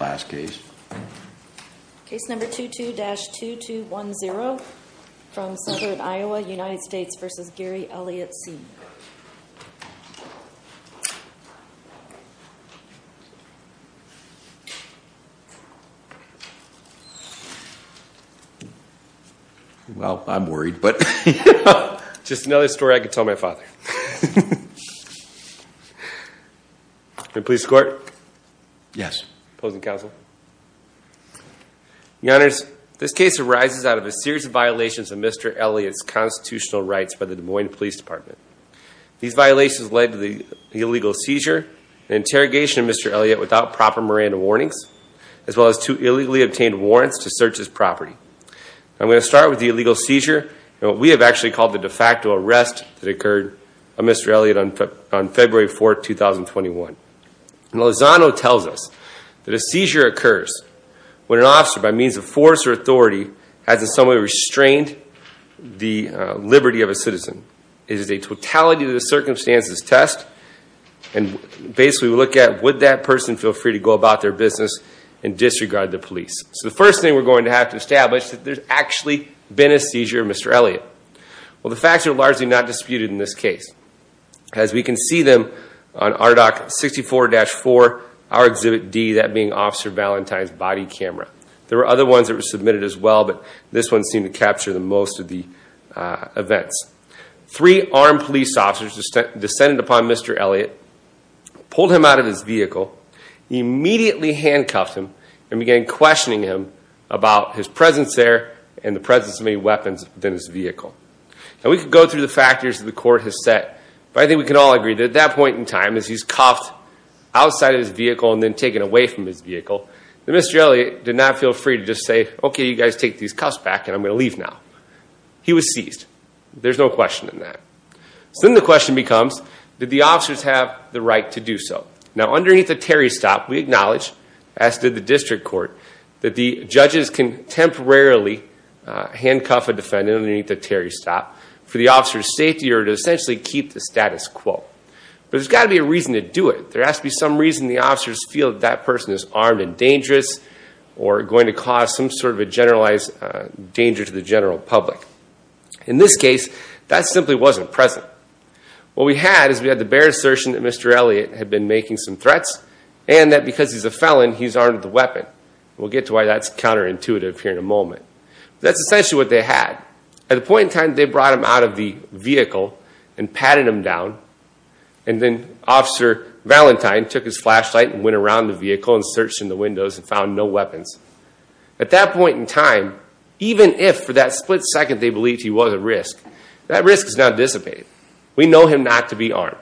Case number 22-2210 from Southern Iowa, United States v. Gary Elliott, Sr. This case arises out of a series of violations of Mr. Elliott's constitutional rights by the Des Moines Police Department. These violations led to the illegal seizure and interrogation of Mr. Elliott without proper Miranda warnings, as well as two illegally obtained warrants to search his property. I'm going to start with the illegal seizure and what we have actually called the de facto arrest that occurred on Mr. Elliott on February 4, 2021. Lozano tells us that a seizure occurs when an officer, by means of force or authority, has in some way restrained the liberty of a citizen. It is a totality of the circumstances test and basically we look at would that person feel free to go about their business and disregard the police. So the first thing we're going to have to establish is that there's actually been a seizure of Mr. Elliott. Well, the facts are largely not disputed in this case. As we can see them on RDOC 64-4, our Exhibit D, that being Officer Valentine's body camera. There were other ones that were submitted as well, but this one seemed to capture most of the events. Three armed police officers descended upon Mr. Elliott, pulled him out of his vehicle, immediately handcuffed him, and began questioning him about his presence there and the presence of any weapons within his vehicle. Now, we could go through the factors that the court has set, but I think we can all agree that at that point in time, as he's cuffed outside of his vehicle and then taken away from his vehicle, that Mr. Elliott did not feel free to just say, okay, you guys take these cuffs back and I'm going to leave now. He was seized. There's no question in that. So then the question becomes, did the officers have the right to do so? Now, underneath the Terry stop, we acknowledge, as did the district court, that the judges can temporarily handcuff a defendant underneath the Terry stop for the officer's safety or to essentially keep the status quo. But there's got to be a reason to do it. There has to be some reason the officers feel that that person is armed and dangerous or going to cause some sort of a generalized danger to the general public. In this case, that simply wasn't present. What we had is we had the bare assertion that Mr. Elliott had been making some threats and that because he's a felon, he's armed with a weapon. We'll get to why that's counterintuitive here in a moment. That's essentially what they had. At the point in time, they brought him out of the vehicle and patted him down, and then Officer Valentine took his flashlight and went around the vehicle and searched in the windows and found no weapons. At that point in time, even if for that split second they believed he was at risk, that risk has now dissipated. We know him not to be armed.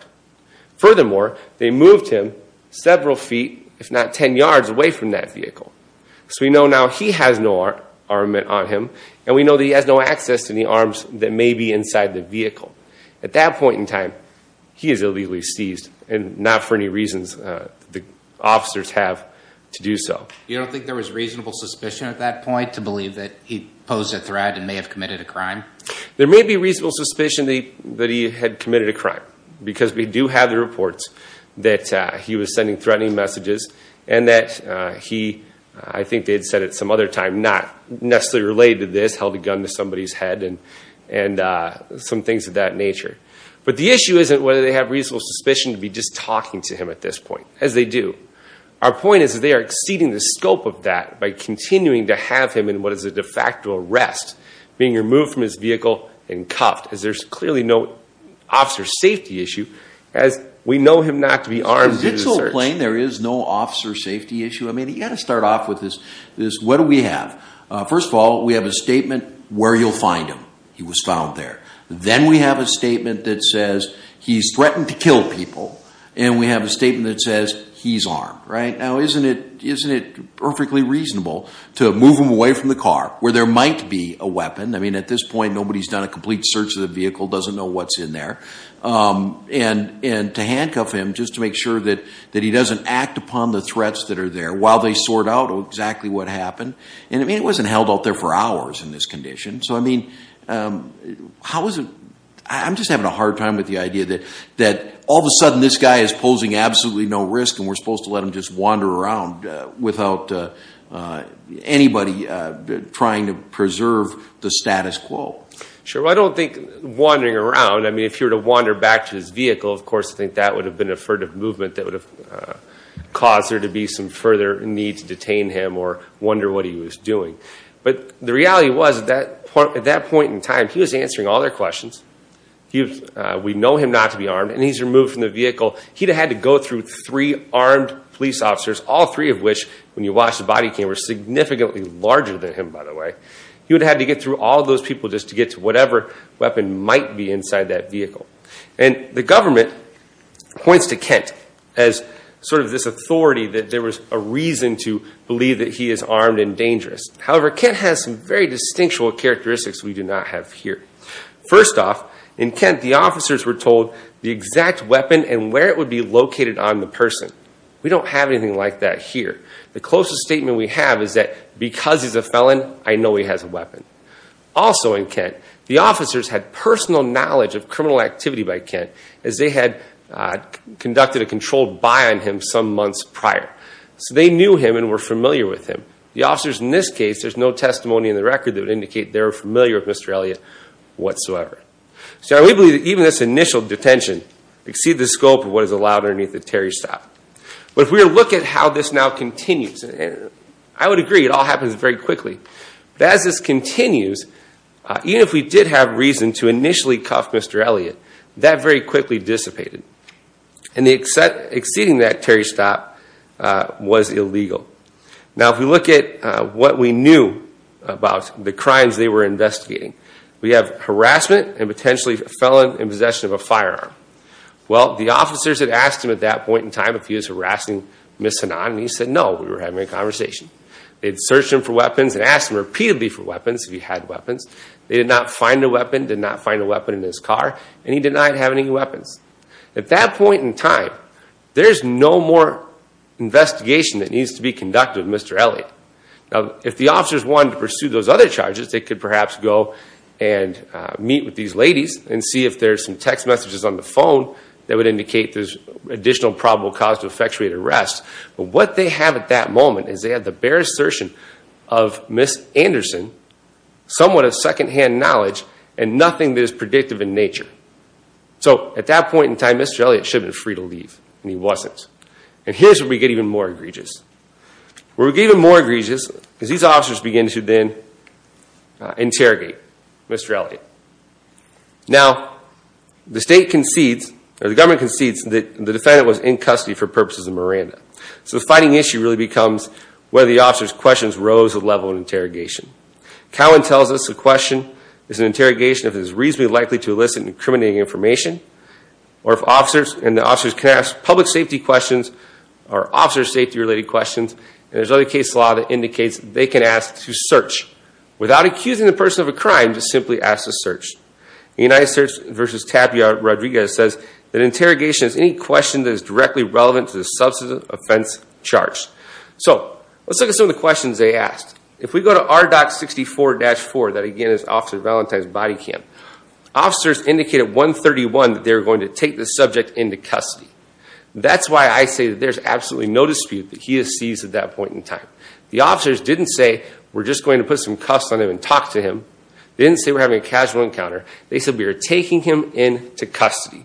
Furthermore, they moved him several feet, if not 10 yards, away from that vehicle. So we know now he has no armament on him, and we know that he has no access to the arms that may be inside the vehicle. At that point in time, he is illegally seized, and not for any reasons the officers have to do so. You don't think there was reasonable suspicion at that point to believe that he posed a threat and may have committed a crime? There may be reasonable suspicion that he had committed a crime, because we do have the reports that he was sending threatening messages and that he, I think they had said at some other time, not necessarily related to this, held a gun to somebody's head and some things of that nature. But the issue isn't whether they have reasonable suspicion to be just talking to him at this point, as they do. Our point is that they are exceeding the scope of that by continuing to have him in what is a de facto arrest, being removed from his vehicle and cuffed, as there's clearly no officer safety issue, as we know him not to be armed during the search. It's all plain, there is no officer safety issue. I mean, you've got to start off with this, what do we have? First of all, we have a statement where you'll find him. He was found there. Then we have a statement that says he's threatened to kill people, and we have a statement that says he's armed, right? Now, isn't it perfectly reasonable to move him away from the car, where there might be a weapon? I mean, at this point, nobody's done a complete search of the vehicle, doesn't know what's in there, and to handcuff him just to make sure that he doesn't act upon the threats that are there while they sort out exactly what happened? I mean, it wasn't held out there for hours in this condition. So, I mean, how is it – I'm just having a hard time with the idea that all of a sudden this guy is posing absolutely no risk and we're supposed to let him just wander around without anybody trying to preserve the status quo? Sure. Well, I don't think wandering around, I mean, if you were to wander back to his vehicle, of course, I think that would have been a furtive movement that would have caused there to be some further need to detain him or wonder what he was doing. But the reality was at that point in time, he was answering all their questions. We know him not to be armed, and he's removed from the vehicle. He'd have had to go through three armed police officers, all three of which, when you watched the body cam, were significantly larger than him, by the way. He would have had to get through all those people just to get to whatever weapon might be inside that vehicle. And the government points to Kent as sort of this authority that there was a reason to believe that he is armed and dangerous. However, Kent has some very distinct characteristics we do not have here. First off, in Kent, the officers were told the exact weapon and where it would be located on the person. We don't have anything like that here. The closest statement we have is that because he's a felon, I know he has a weapon. Also in Kent, the officers had personal knowledge of criminal activity by Kent as they had conducted a controlled buy on him some months prior. So they knew him and were familiar with him. The officers in this case, there's no testimony in the record that would indicate they were familiar with Mr. Elliott whatsoever. So we believe that even this initial detention exceeded the scope of what is allowed underneath the Terry stop. But if we were to look at how this now continues, I would agree it all happens very quickly. But as this continues, even if we did have reason to initially cuff Mr. Elliott, that very quickly dissipated. And exceeding that Terry stop was illegal. Now if we look at what we knew about the crimes they were investigating, we have harassment and potentially a felon in possession of a firearm. Well, the officers had asked him at that point in time if he was harassing Ms. Hanan, and he said no, we were having a conversation. They had searched him for weapons and asked him repeatedly for weapons, if he had weapons. They did not find a weapon, did not find a weapon in his car, and he denied having any weapons. At that point in time, there's no more investigation that needs to be conducted with Mr. Elliott. Now if the officers wanted to pursue those other charges, they could perhaps go and meet with these ladies and see if there's some text messages on the phone that would indicate there's additional probable cause to effectuate arrest. But what they have at that moment is they have the bare assertion of Ms. Anderson, somewhat of second-hand knowledge, and nothing that is predictive in nature. So at that point in time, Mr. Elliott should have been free to leave, and he wasn't. And here's where we get even more egregious. Where we get even more egregious is these officers begin to then interrogate Mr. Elliott. Now, the state concedes, or the government concedes, that the defendant was in custody for purposes of Miranda. So the fighting issue really becomes whether the officer's questions rose to the level of interrogation. Cowan tells us a question is an interrogation if it is reasonably likely to elicit incriminating information, and the officers can ask public safety questions or officer safety-related questions, and there's another case law that indicates they can ask to search without accusing the person of a crime, just simply ask to search. United Search v. Tapia Rodriguez says that interrogation is any question that is directly relevant to the substance offense charge. So let's look at some of the questions they asked. If we go to RDOC 64-4, that again is Officer Valentine's body cam, officers indicated at 131 that they were going to take the subject into custody. That's why I say that there's absolutely no dispute that he is seized at that point in time. The officers didn't say we're just going to put some cuffs on him and talk to him. They didn't say we're having a casual encounter. They said we are taking him into custody.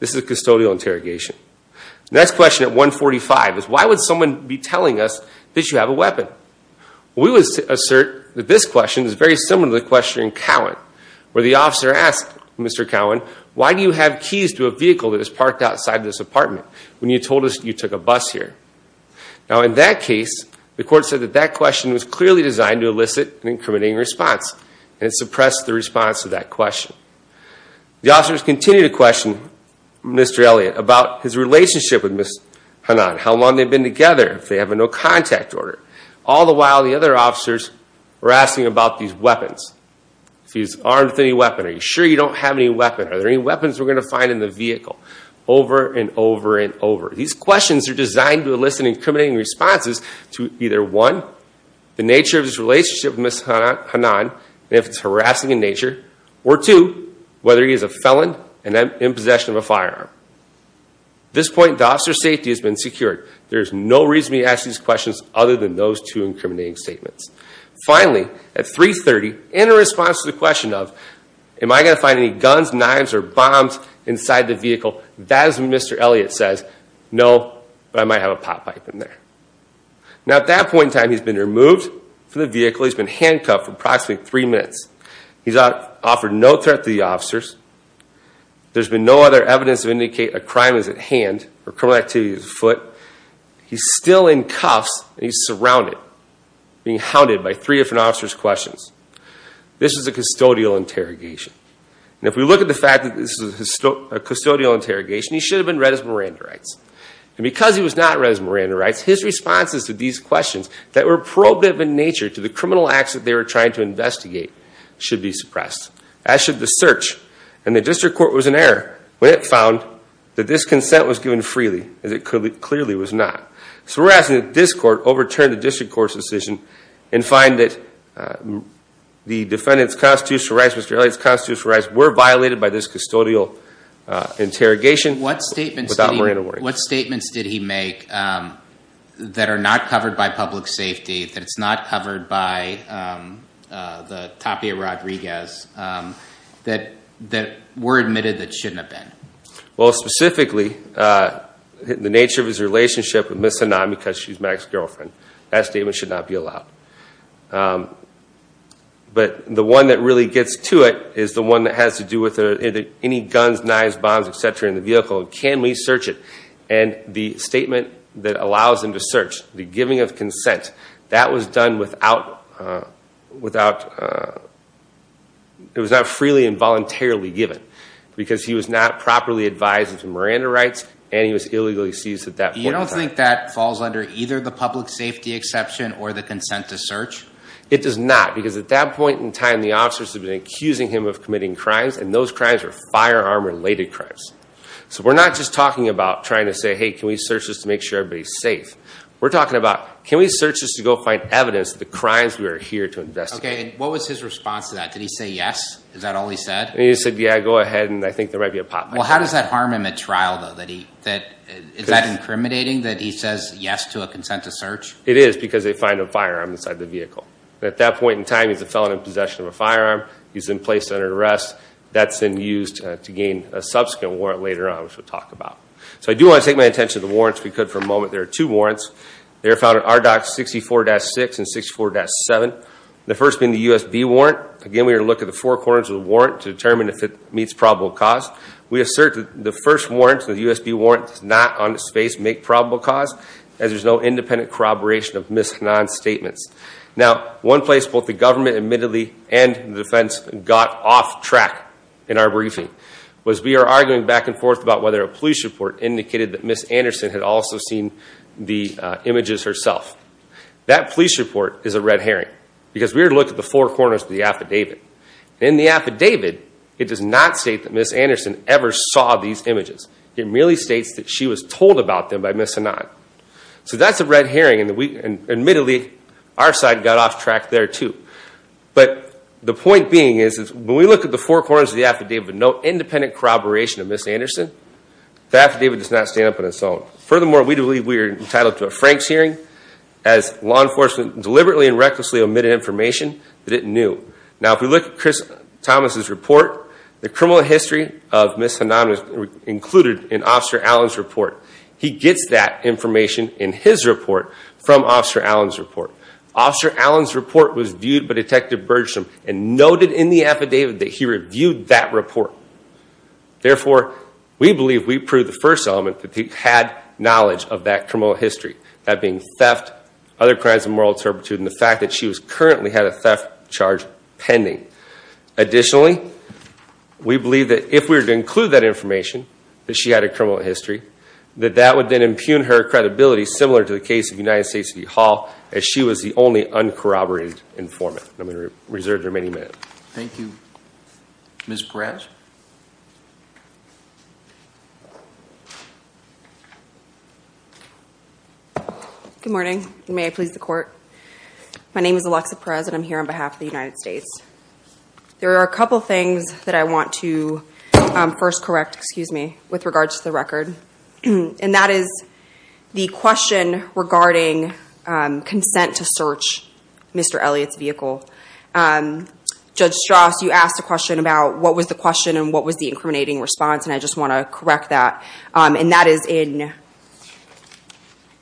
This is a custodial interrogation. Next question at 145 is why would someone be telling us that you have a weapon? We would assert that this question is very similar to the question in Cowan, where the officer asked Mr. Cowan, why do you have keys to a vehicle that is parked outside this apartment when you told us you took a bus here? Now in that case, the court said that that question was clearly designed to elicit an incriminating response, and it suppressed the response to that question. The officers continue to question Mr. Elliott about his relationship with Ms. Hanan, how long they've been together, if they have a no contact order. All the while, the other officers were asking about these weapons. If he's armed with any weapon, are you sure you don't have any weapon? Are there any weapons we're going to find in the vehicle? Over and over and over. These questions are designed to elicit an incriminating response to either one, the nature of his relationship with Ms. Hanan, and if it's harassing in nature, or two, whether he is a felon and in possession of a firearm. At this point, the officer's safety has been secured. There is no reason to ask these questions other than those two incriminating statements. Finally, at 330, in response to the question of am I going to find any guns, knives, or bombs inside the vehicle, that is when Mr. Elliott says, no, but I might have a pot pipe in there. Now, at that point in time, he's been removed from the vehicle. He's been handcuffed for approximately three minutes. He's offered no threat to the officers. There's been no other evidence to indicate a crime is at hand or criminal activity is at foot. He's still in cuffs and he's surrounded, being hounded by three different officers' questions. This is a custodial interrogation. Now, if we look at the fact that this is a custodial interrogation, he should have been read as Miranda rights. And because he was not read as Miranda rights, his responses to these questions that were probative in nature to the criminal acts that they were trying to investigate should be suppressed, as should the search. And the district court was in error when it found that this consent was given freely, as it clearly was not. So we're asking that this court overturn the district court's decision and find that the defendant's constitutional rights, Mr. Elliott's constitutional rights, were violated by this custodial interrogation without Miranda rights. What statements did he make that are not covered by public safety, that it's not covered by the Tapia Rodriguez, that were admitted that shouldn't have been? Well, specifically, the nature of his relationship with Ms. Hanan, because she's Mac's girlfriend. That statement should not be allowed. But the one that really gets to it is the one that has to do with any guns, knives, bombs, etc., in the vehicle. Can we search it? And the statement that allows him to search, the giving of consent, that was done without – it was not freely and voluntarily given because he was not properly advised into Miranda rights and he was illegally seized at that point in time. I don't think that falls under either the public safety exception or the consent to search. It does not. Because at that point in time, the officers had been accusing him of committing crimes, and those crimes were firearm-related crimes. So we're not just talking about trying to say, hey, can we search this to make sure everybody's safe. We're talking about, can we search this to go find evidence of the crimes we are here to investigate? Okay, and what was his response to that? Did he say yes? Is that all he said? Well, how does that harm him at trial, though? Is that incriminating that he says yes to a consent to search? It is because they find a firearm inside the vehicle. At that point in time, he's a felon in possession of a firearm. He's in place under arrest. That's then used to gain a subsequent warrant later on, which we'll talk about. So I do want to take my attention to the warrants if we could for a moment. There are two warrants. They are found in RDOC 64-6 and 64-7, the first being the USB warrant. Again, we are to look at the four corners of the warrant to determine if it meets probable cause. We assert that the first warrant, the USB warrant, does not on its face make probable cause, as there's no independent corroboration of Ms. Hanan's statements. Now, one place both the government admittedly and the defense got off track in our briefing was we are arguing back and forth about whether a police report indicated that Ms. Anderson had also seen the images herself. That police report is a red herring because we are to look at the four corners of the affidavit. In the affidavit, it does not state that Ms. Anderson ever saw these images. It merely states that she was told about them by Ms. Hanan. So that's a red herring, and admittedly, our side got off track there too. But the point being is when we look at the four corners of the affidavit, no independent corroboration of Ms. Anderson, the affidavit does not stand up on its own. Furthermore, we believe we are entitled to a Franks hearing, as law enforcement deliberately and recklessly omitted information that it knew. Now, if we look at Chris Thomas' report, the criminal history of Ms. Hanan is included in Officer Allen's report. He gets that information in his report from Officer Allen's report. Officer Allen's report was viewed by Detective Bergstrom and noted in the affidavit that he reviewed that report. Therefore, we believe we prove the first element that he had knowledge of that criminal history, that being theft, other crimes of moral turpitude, and the fact that she currently had a theft charge pending. Additionally, we believe that if we were to include that information, that she had a criminal history, that that would then impugn her credibility, similar to the case of United States City Hall, as she was the only uncorroborated informant. I'm going to reserve the remaining minutes. Thank you. Ms. Perez? Good morning. May I please the court? My name is Alexa Perez, and I'm here on behalf of the United States. There are a couple of things that I want to first correct with regard to the record, and that is the question regarding consent to search Mr. Elliott's vehicle. Judge Strauss, you asked a question about what was the question and what was the incriminating response, and I just want to correct that. And that is in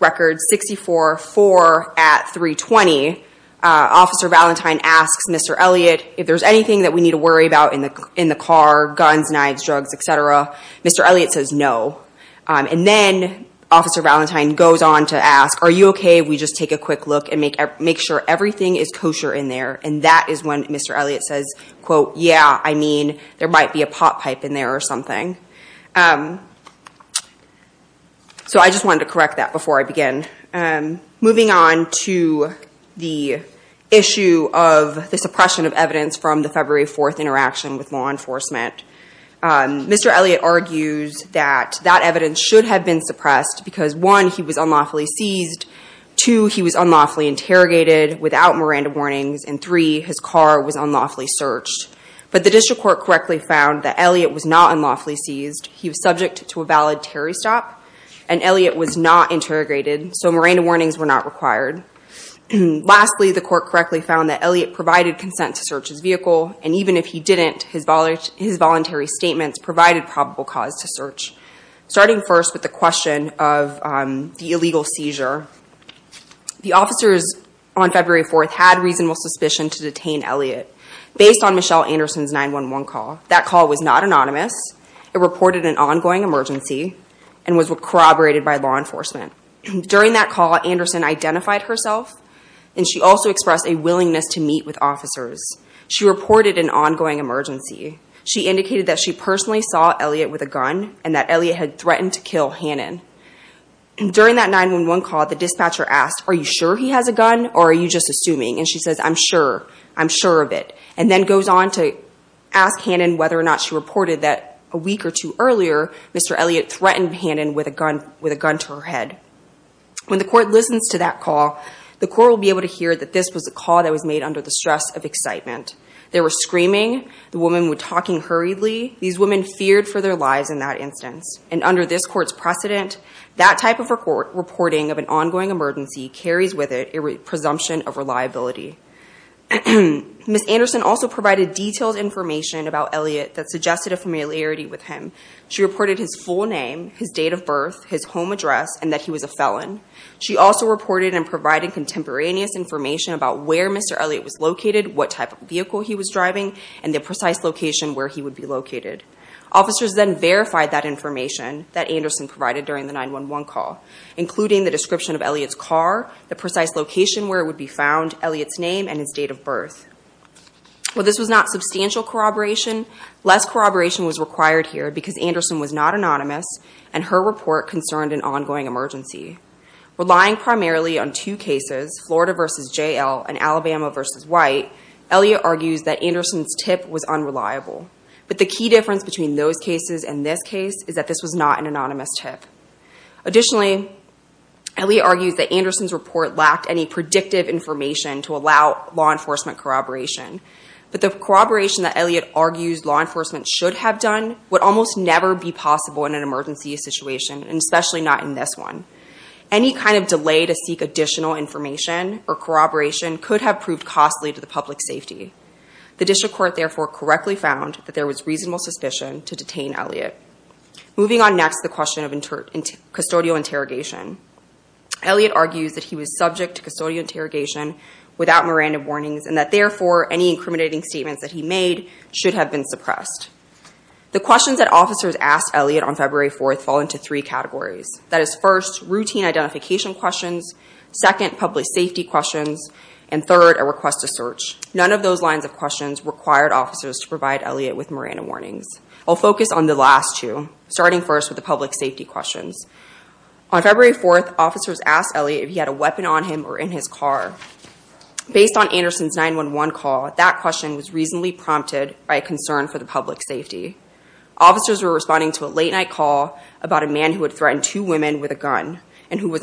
Record 64-4 at 320, Officer Valentine asks Mr. Elliott, if there's anything that we need to worry about in the car, guns, knives, drugs, et cetera. Mr. Elliott says no. And then Officer Valentine goes on to ask, are you okay if we just take a quick look and make sure everything is kosher in there? And that is when Mr. Elliott says, quote, yeah, I mean, there might be a pot pipe in there or something. So I just wanted to correct that before I begin. Moving on to the issue of the suppression of evidence from the February 4th interaction with law enforcement, Mr. Elliott argues that that evidence should have been suppressed because, one, he was unlawfully seized. Two, he was unlawfully interrogated without Miranda warnings. And three, his car was unlawfully searched. But the district court correctly found that Elliott was not unlawfully seized. He was subject to a valid Terry stop, and Elliott was not interrogated, so Miranda warnings were not required. Lastly, the court correctly found that Elliott provided consent to search his vehicle, and even if he didn't, his voluntary statements provided probable cause to search. Starting first with the question of the illegal seizure, the officers on February 4th had reasonable suspicion to detain Elliott based on Michelle Anderson's 911 call. That call was not anonymous. It reported an ongoing emergency and was corroborated by law enforcement. During that call, Anderson identified herself, and she also expressed a willingness to meet with officers. She reported an ongoing emergency. She indicated that she personally saw Elliott with a gun and that Elliott had threatened to kill Hannon. During that 911 call, the dispatcher asked, are you sure he has a gun or are you just assuming? And she says, I'm sure. I'm sure of it, and then goes on to ask Hannon whether or not she reported that a week or two earlier, Mr. Elliott threatened Hannon with a gun to her head. When the court listens to that call, the court will be able to hear that this was a call that was made under the stress of excitement. There was screaming. The woman was talking hurriedly. These women feared for their lives in that instance, and under this court's precedent, that type of reporting of an ongoing emergency carries with it a presumption of reliability. Ms. Anderson also provided detailed information about Elliott that suggested a familiarity with him. She reported his full name, his date of birth, his home address, and that he was a felon. She also reported and provided contemporaneous information about where Mr. Elliott was located, what type of vehicle he was driving, and the precise location where he would be located. Officers then verified that information that Anderson provided during the 911 call, including the description of Elliott's car, the precise location where it would be found, Elliott's name, and his date of birth. While this was not substantial corroboration, less corroboration was required here because Anderson was not anonymous and her report concerned an ongoing emergency. Relying primarily on two cases, Florida v. J.L. and Alabama v. White, Elliott argues that Anderson's tip was unreliable. But the key difference between those cases and this case is that this was not an anonymous tip. Additionally, Elliott argues that Anderson's report lacked any predictive information to allow law enforcement corroboration. But the corroboration that Elliott argues law enforcement should have done would almost never be possible in an emergency situation, and especially not in this one. Any kind of delay to seek additional information or corroboration could have proved costly to the public's safety. The district court, therefore, correctly found that there was reasonable suspicion to detain Elliott. Moving on next to the question of custodial interrogation, Elliott argues that he was subject to custodial interrogation without Miranda warnings and that, therefore, any incriminating statements that he made should have been suppressed. The questions that officers asked Elliott on February 4th fall into three categories. That is, first, routine identification questions, second, public safety questions, and third, a request to search. None of those lines of questions required officers to provide Elliott with Miranda warnings. I'll focus on the last two, starting first with the public safety questions. On February 4th, officers asked Elliott if he had a weapon on him or in his car. Based on Anderson's 911 call, that question was reasonably prompted by a concern for the public safety. Officers were responding to a late-night call about a man who had threatened two women with a gun and who was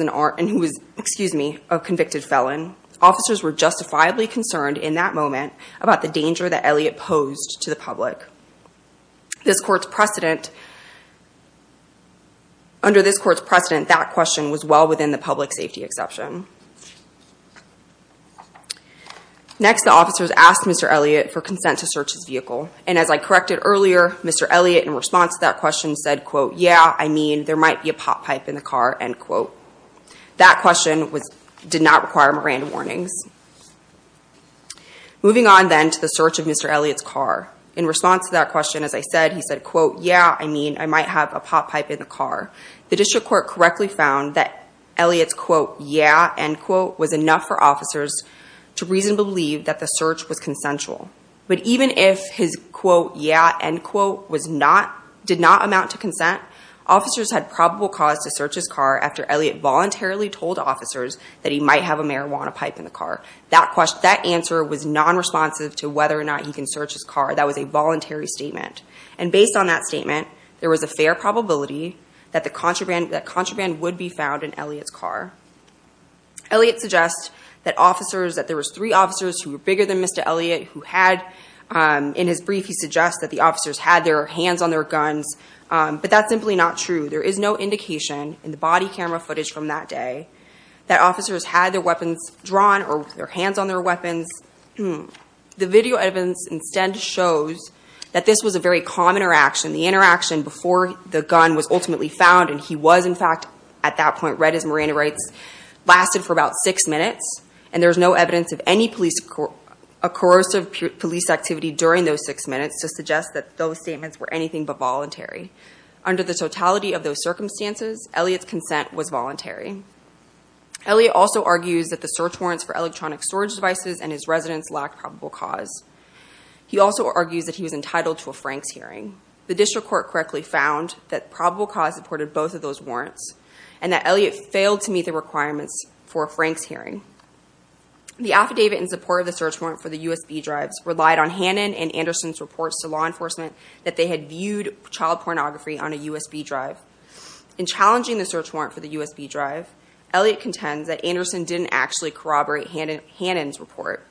a convicted felon. Officers were justifiably concerned in that moment about the danger that Elliott posed to the public. Under this court's precedent, that question was well within the public safety exception. Next, the officers asked Mr. Elliott for consent to search his vehicle. And as I corrected earlier, Mr. Elliott, in response to that question, said, quote, yeah, I mean, there might be a potpipe in the car, end quote. That question did not require Miranda warnings. Moving on, then, to the search of Mr. Elliott's car. In response to that question, as I said, he said, quote, yeah, I mean, I might have a potpipe in the car. The district court correctly found that Elliott's, quote, yeah, end quote, was enough for officers to reasonably believe that the search was consensual. But even if his, quote, yeah, end quote, did not amount to consent, officers had probable cause to search his car after Elliott voluntarily told officers that he might have a marijuana pipe in the car. That answer was nonresponsive to whether or not he can search his car. That was a voluntary statement. And based on that statement, there was a fair probability that contraband would be found in Elliott's car. Elliott suggests that officers, that there was three officers who were bigger than Mr. Elliott, who had, in his brief, he suggests that the officers had their hands on their guns. But that's simply not true. There is no indication in the body camera footage from that day that officers had their weapons drawn or their hands on their weapons. The video evidence instead shows that this was a very calm interaction. The interaction before the gun was ultimately found, and he was, in fact, at that point, read his marijuana rights, lasted for about six minutes. And there's no evidence of any police, a corrosive police activity during those six minutes to suggest that those statements were anything but voluntary. Elliott also argues that the search warrants for electronic storage devices and his residence lacked probable cause. He also argues that he was entitled to a Franks hearing. The district court correctly found that probable cause supported both of those warrants and that Elliott failed to meet the requirements for a Franks hearing. The affidavit in support of the search warrant for the USB drives relied on Hannon and Anderson's reports to law enforcement that they had viewed child pornography on a USB drive. In challenging the search warrant for the USB drive, Elliott contends that Anderson didn't actually corroborate Hannon's report.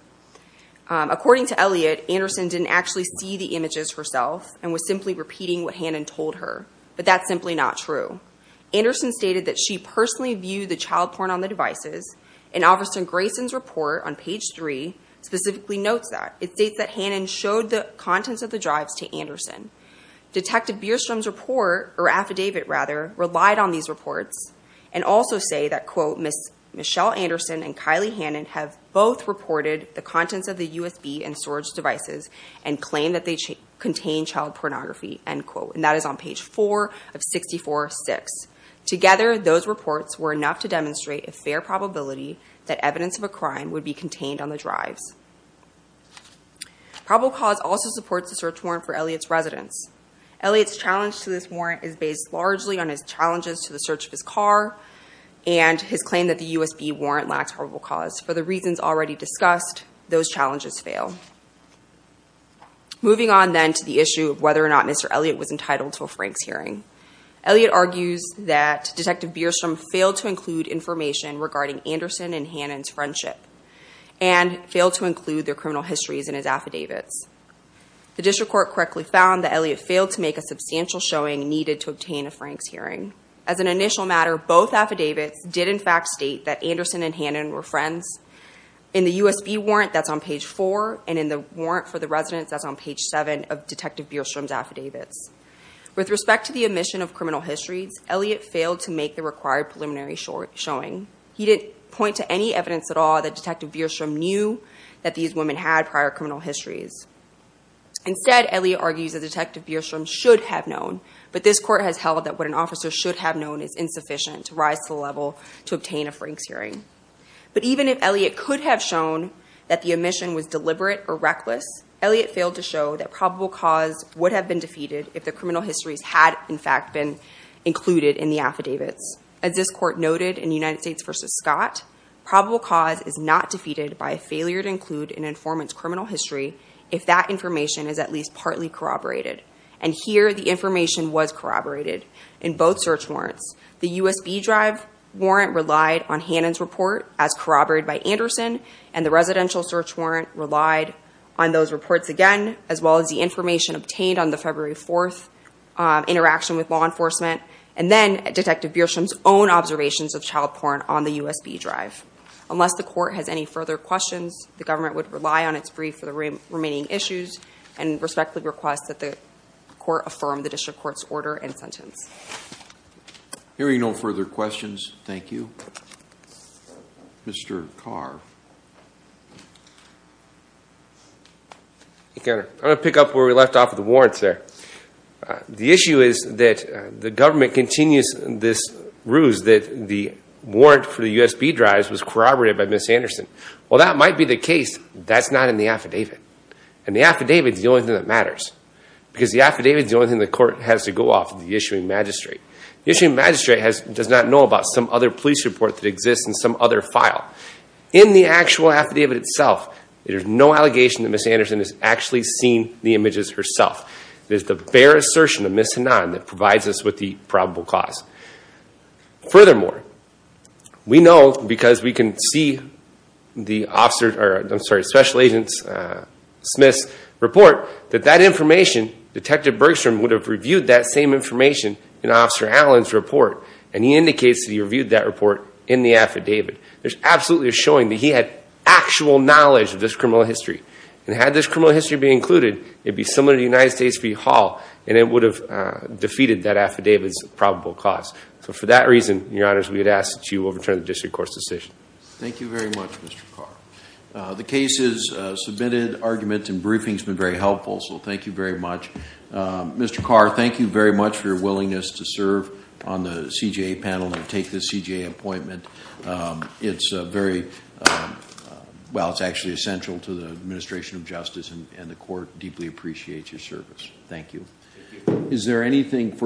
According to Elliott, Anderson didn't actually see the images herself and was simply repeating what Hannon told her, but that's simply not true. Anderson stated that she personally viewed the child porn on the devices, and Officer Grayson's report on page three specifically notes that. Detective Bierstrom's report, or affidavit rather, relied on these reports and also say that, quote, Together, those reports were enough to demonstrate a fair probability that evidence of a crime would be contained on the drives. Probable cause also supports the search warrant for Elliott's residence. Elliott's challenge to this warrant is based largely on his challenges to the search of his car and his claim that the USB warrant lacks probable cause. For the reasons already discussed, those challenges fail. Moving on then to the issue of whether or not Mr. Elliott was entitled to a Franks hearing. Elliott argues that Detective Bierstrom failed to include information regarding Anderson and Hannon's friendship and failed to include their criminal histories in his affidavits. The district court correctly found that Elliott failed to make a substantial showing needed to obtain a Franks hearing. As an initial matter, both affidavits did in fact state that Anderson and Hannon were friends. In the USB warrant, that's on page four, and in the warrant for the residence, that's on page seven of Detective Bierstrom's affidavits. With respect to the omission of criminal histories, Elliott failed to make the required preliminary showing. He didn't point to any evidence at all that Detective Bierstrom knew that these women had prior criminal histories. Instead, Elliott argues that Detective Bierstrom should have known, but this court has held that what an officer should have known is insufficient to rise to the level to obtain a Franks hearing. But even if Elliott could have shown that the omission was deliberate or reckless, Elliott failed to show that probable cause would have been defeated if the criminal histories had in fact been included in the affidavits. As this court noted in United States v. Scott, probable cause is not defeated by a failure to include an informant's criminal history if that information is at least partly corroborated. And here the information was corroborated in both search warrants. The USB drive warrant relied on Hannon's report as corroborated by Anderson, and the residential search warrant relied on those reports again, as well as the information obtained on the February 4th interaction with law enforcement. And then Detective Bierstrom's own observations of child porn on the USB drive. Unless the court has any further questions, the government would rely on its brief for the remaining issues and respectfully request that the court affirm the district court's order and sentence. Hearing no further questions, thank you. Mr. Carr. I'm going to pick up where we left off with the warrants there. The issue is that the government continues this ruse that the warrant for the USB drives was corroborated by Ms. Anderson. While that might be the case, that's not in the affidavit. And the affidavit is the only thing that matters, because the affidavit is the only thing the court has to go off of the issuing magistrate. The issuing magistrate does not know about some other police report that exists in some other file. In the actual affidavit itself, there's no allegation that Ms. Anderson has actually seen the images herself. There's the bare assertion of Ms. Hannan that provides us with the probable cause. Furthermore, we know because we can see the special agent Smith's report, that that information, Detective Bergstrom would have reviewed that same information in Officer Allen's report. And he indicates that he reviewed that report in the affidavit. There's absolutely a showing that he had actual knowledge of this criminal history. And had this criminal history been included, it would be similar to the United States v. Hall, and it would have defeated that affidavit's probable cause. So for that reason, Your Honors, we would ask that you overturn the district court's decision. Thank you very much, Mr. Carr. The case's submitted argument and briefing has been very helpful, so thank you very much. Mr. Carr, thank you very much for your willingness to serve on the CJA panel and take this CJA appointment. It's very, well, it's actually essential to the administration of justice, and the court deeply appreciates your service. Thank you.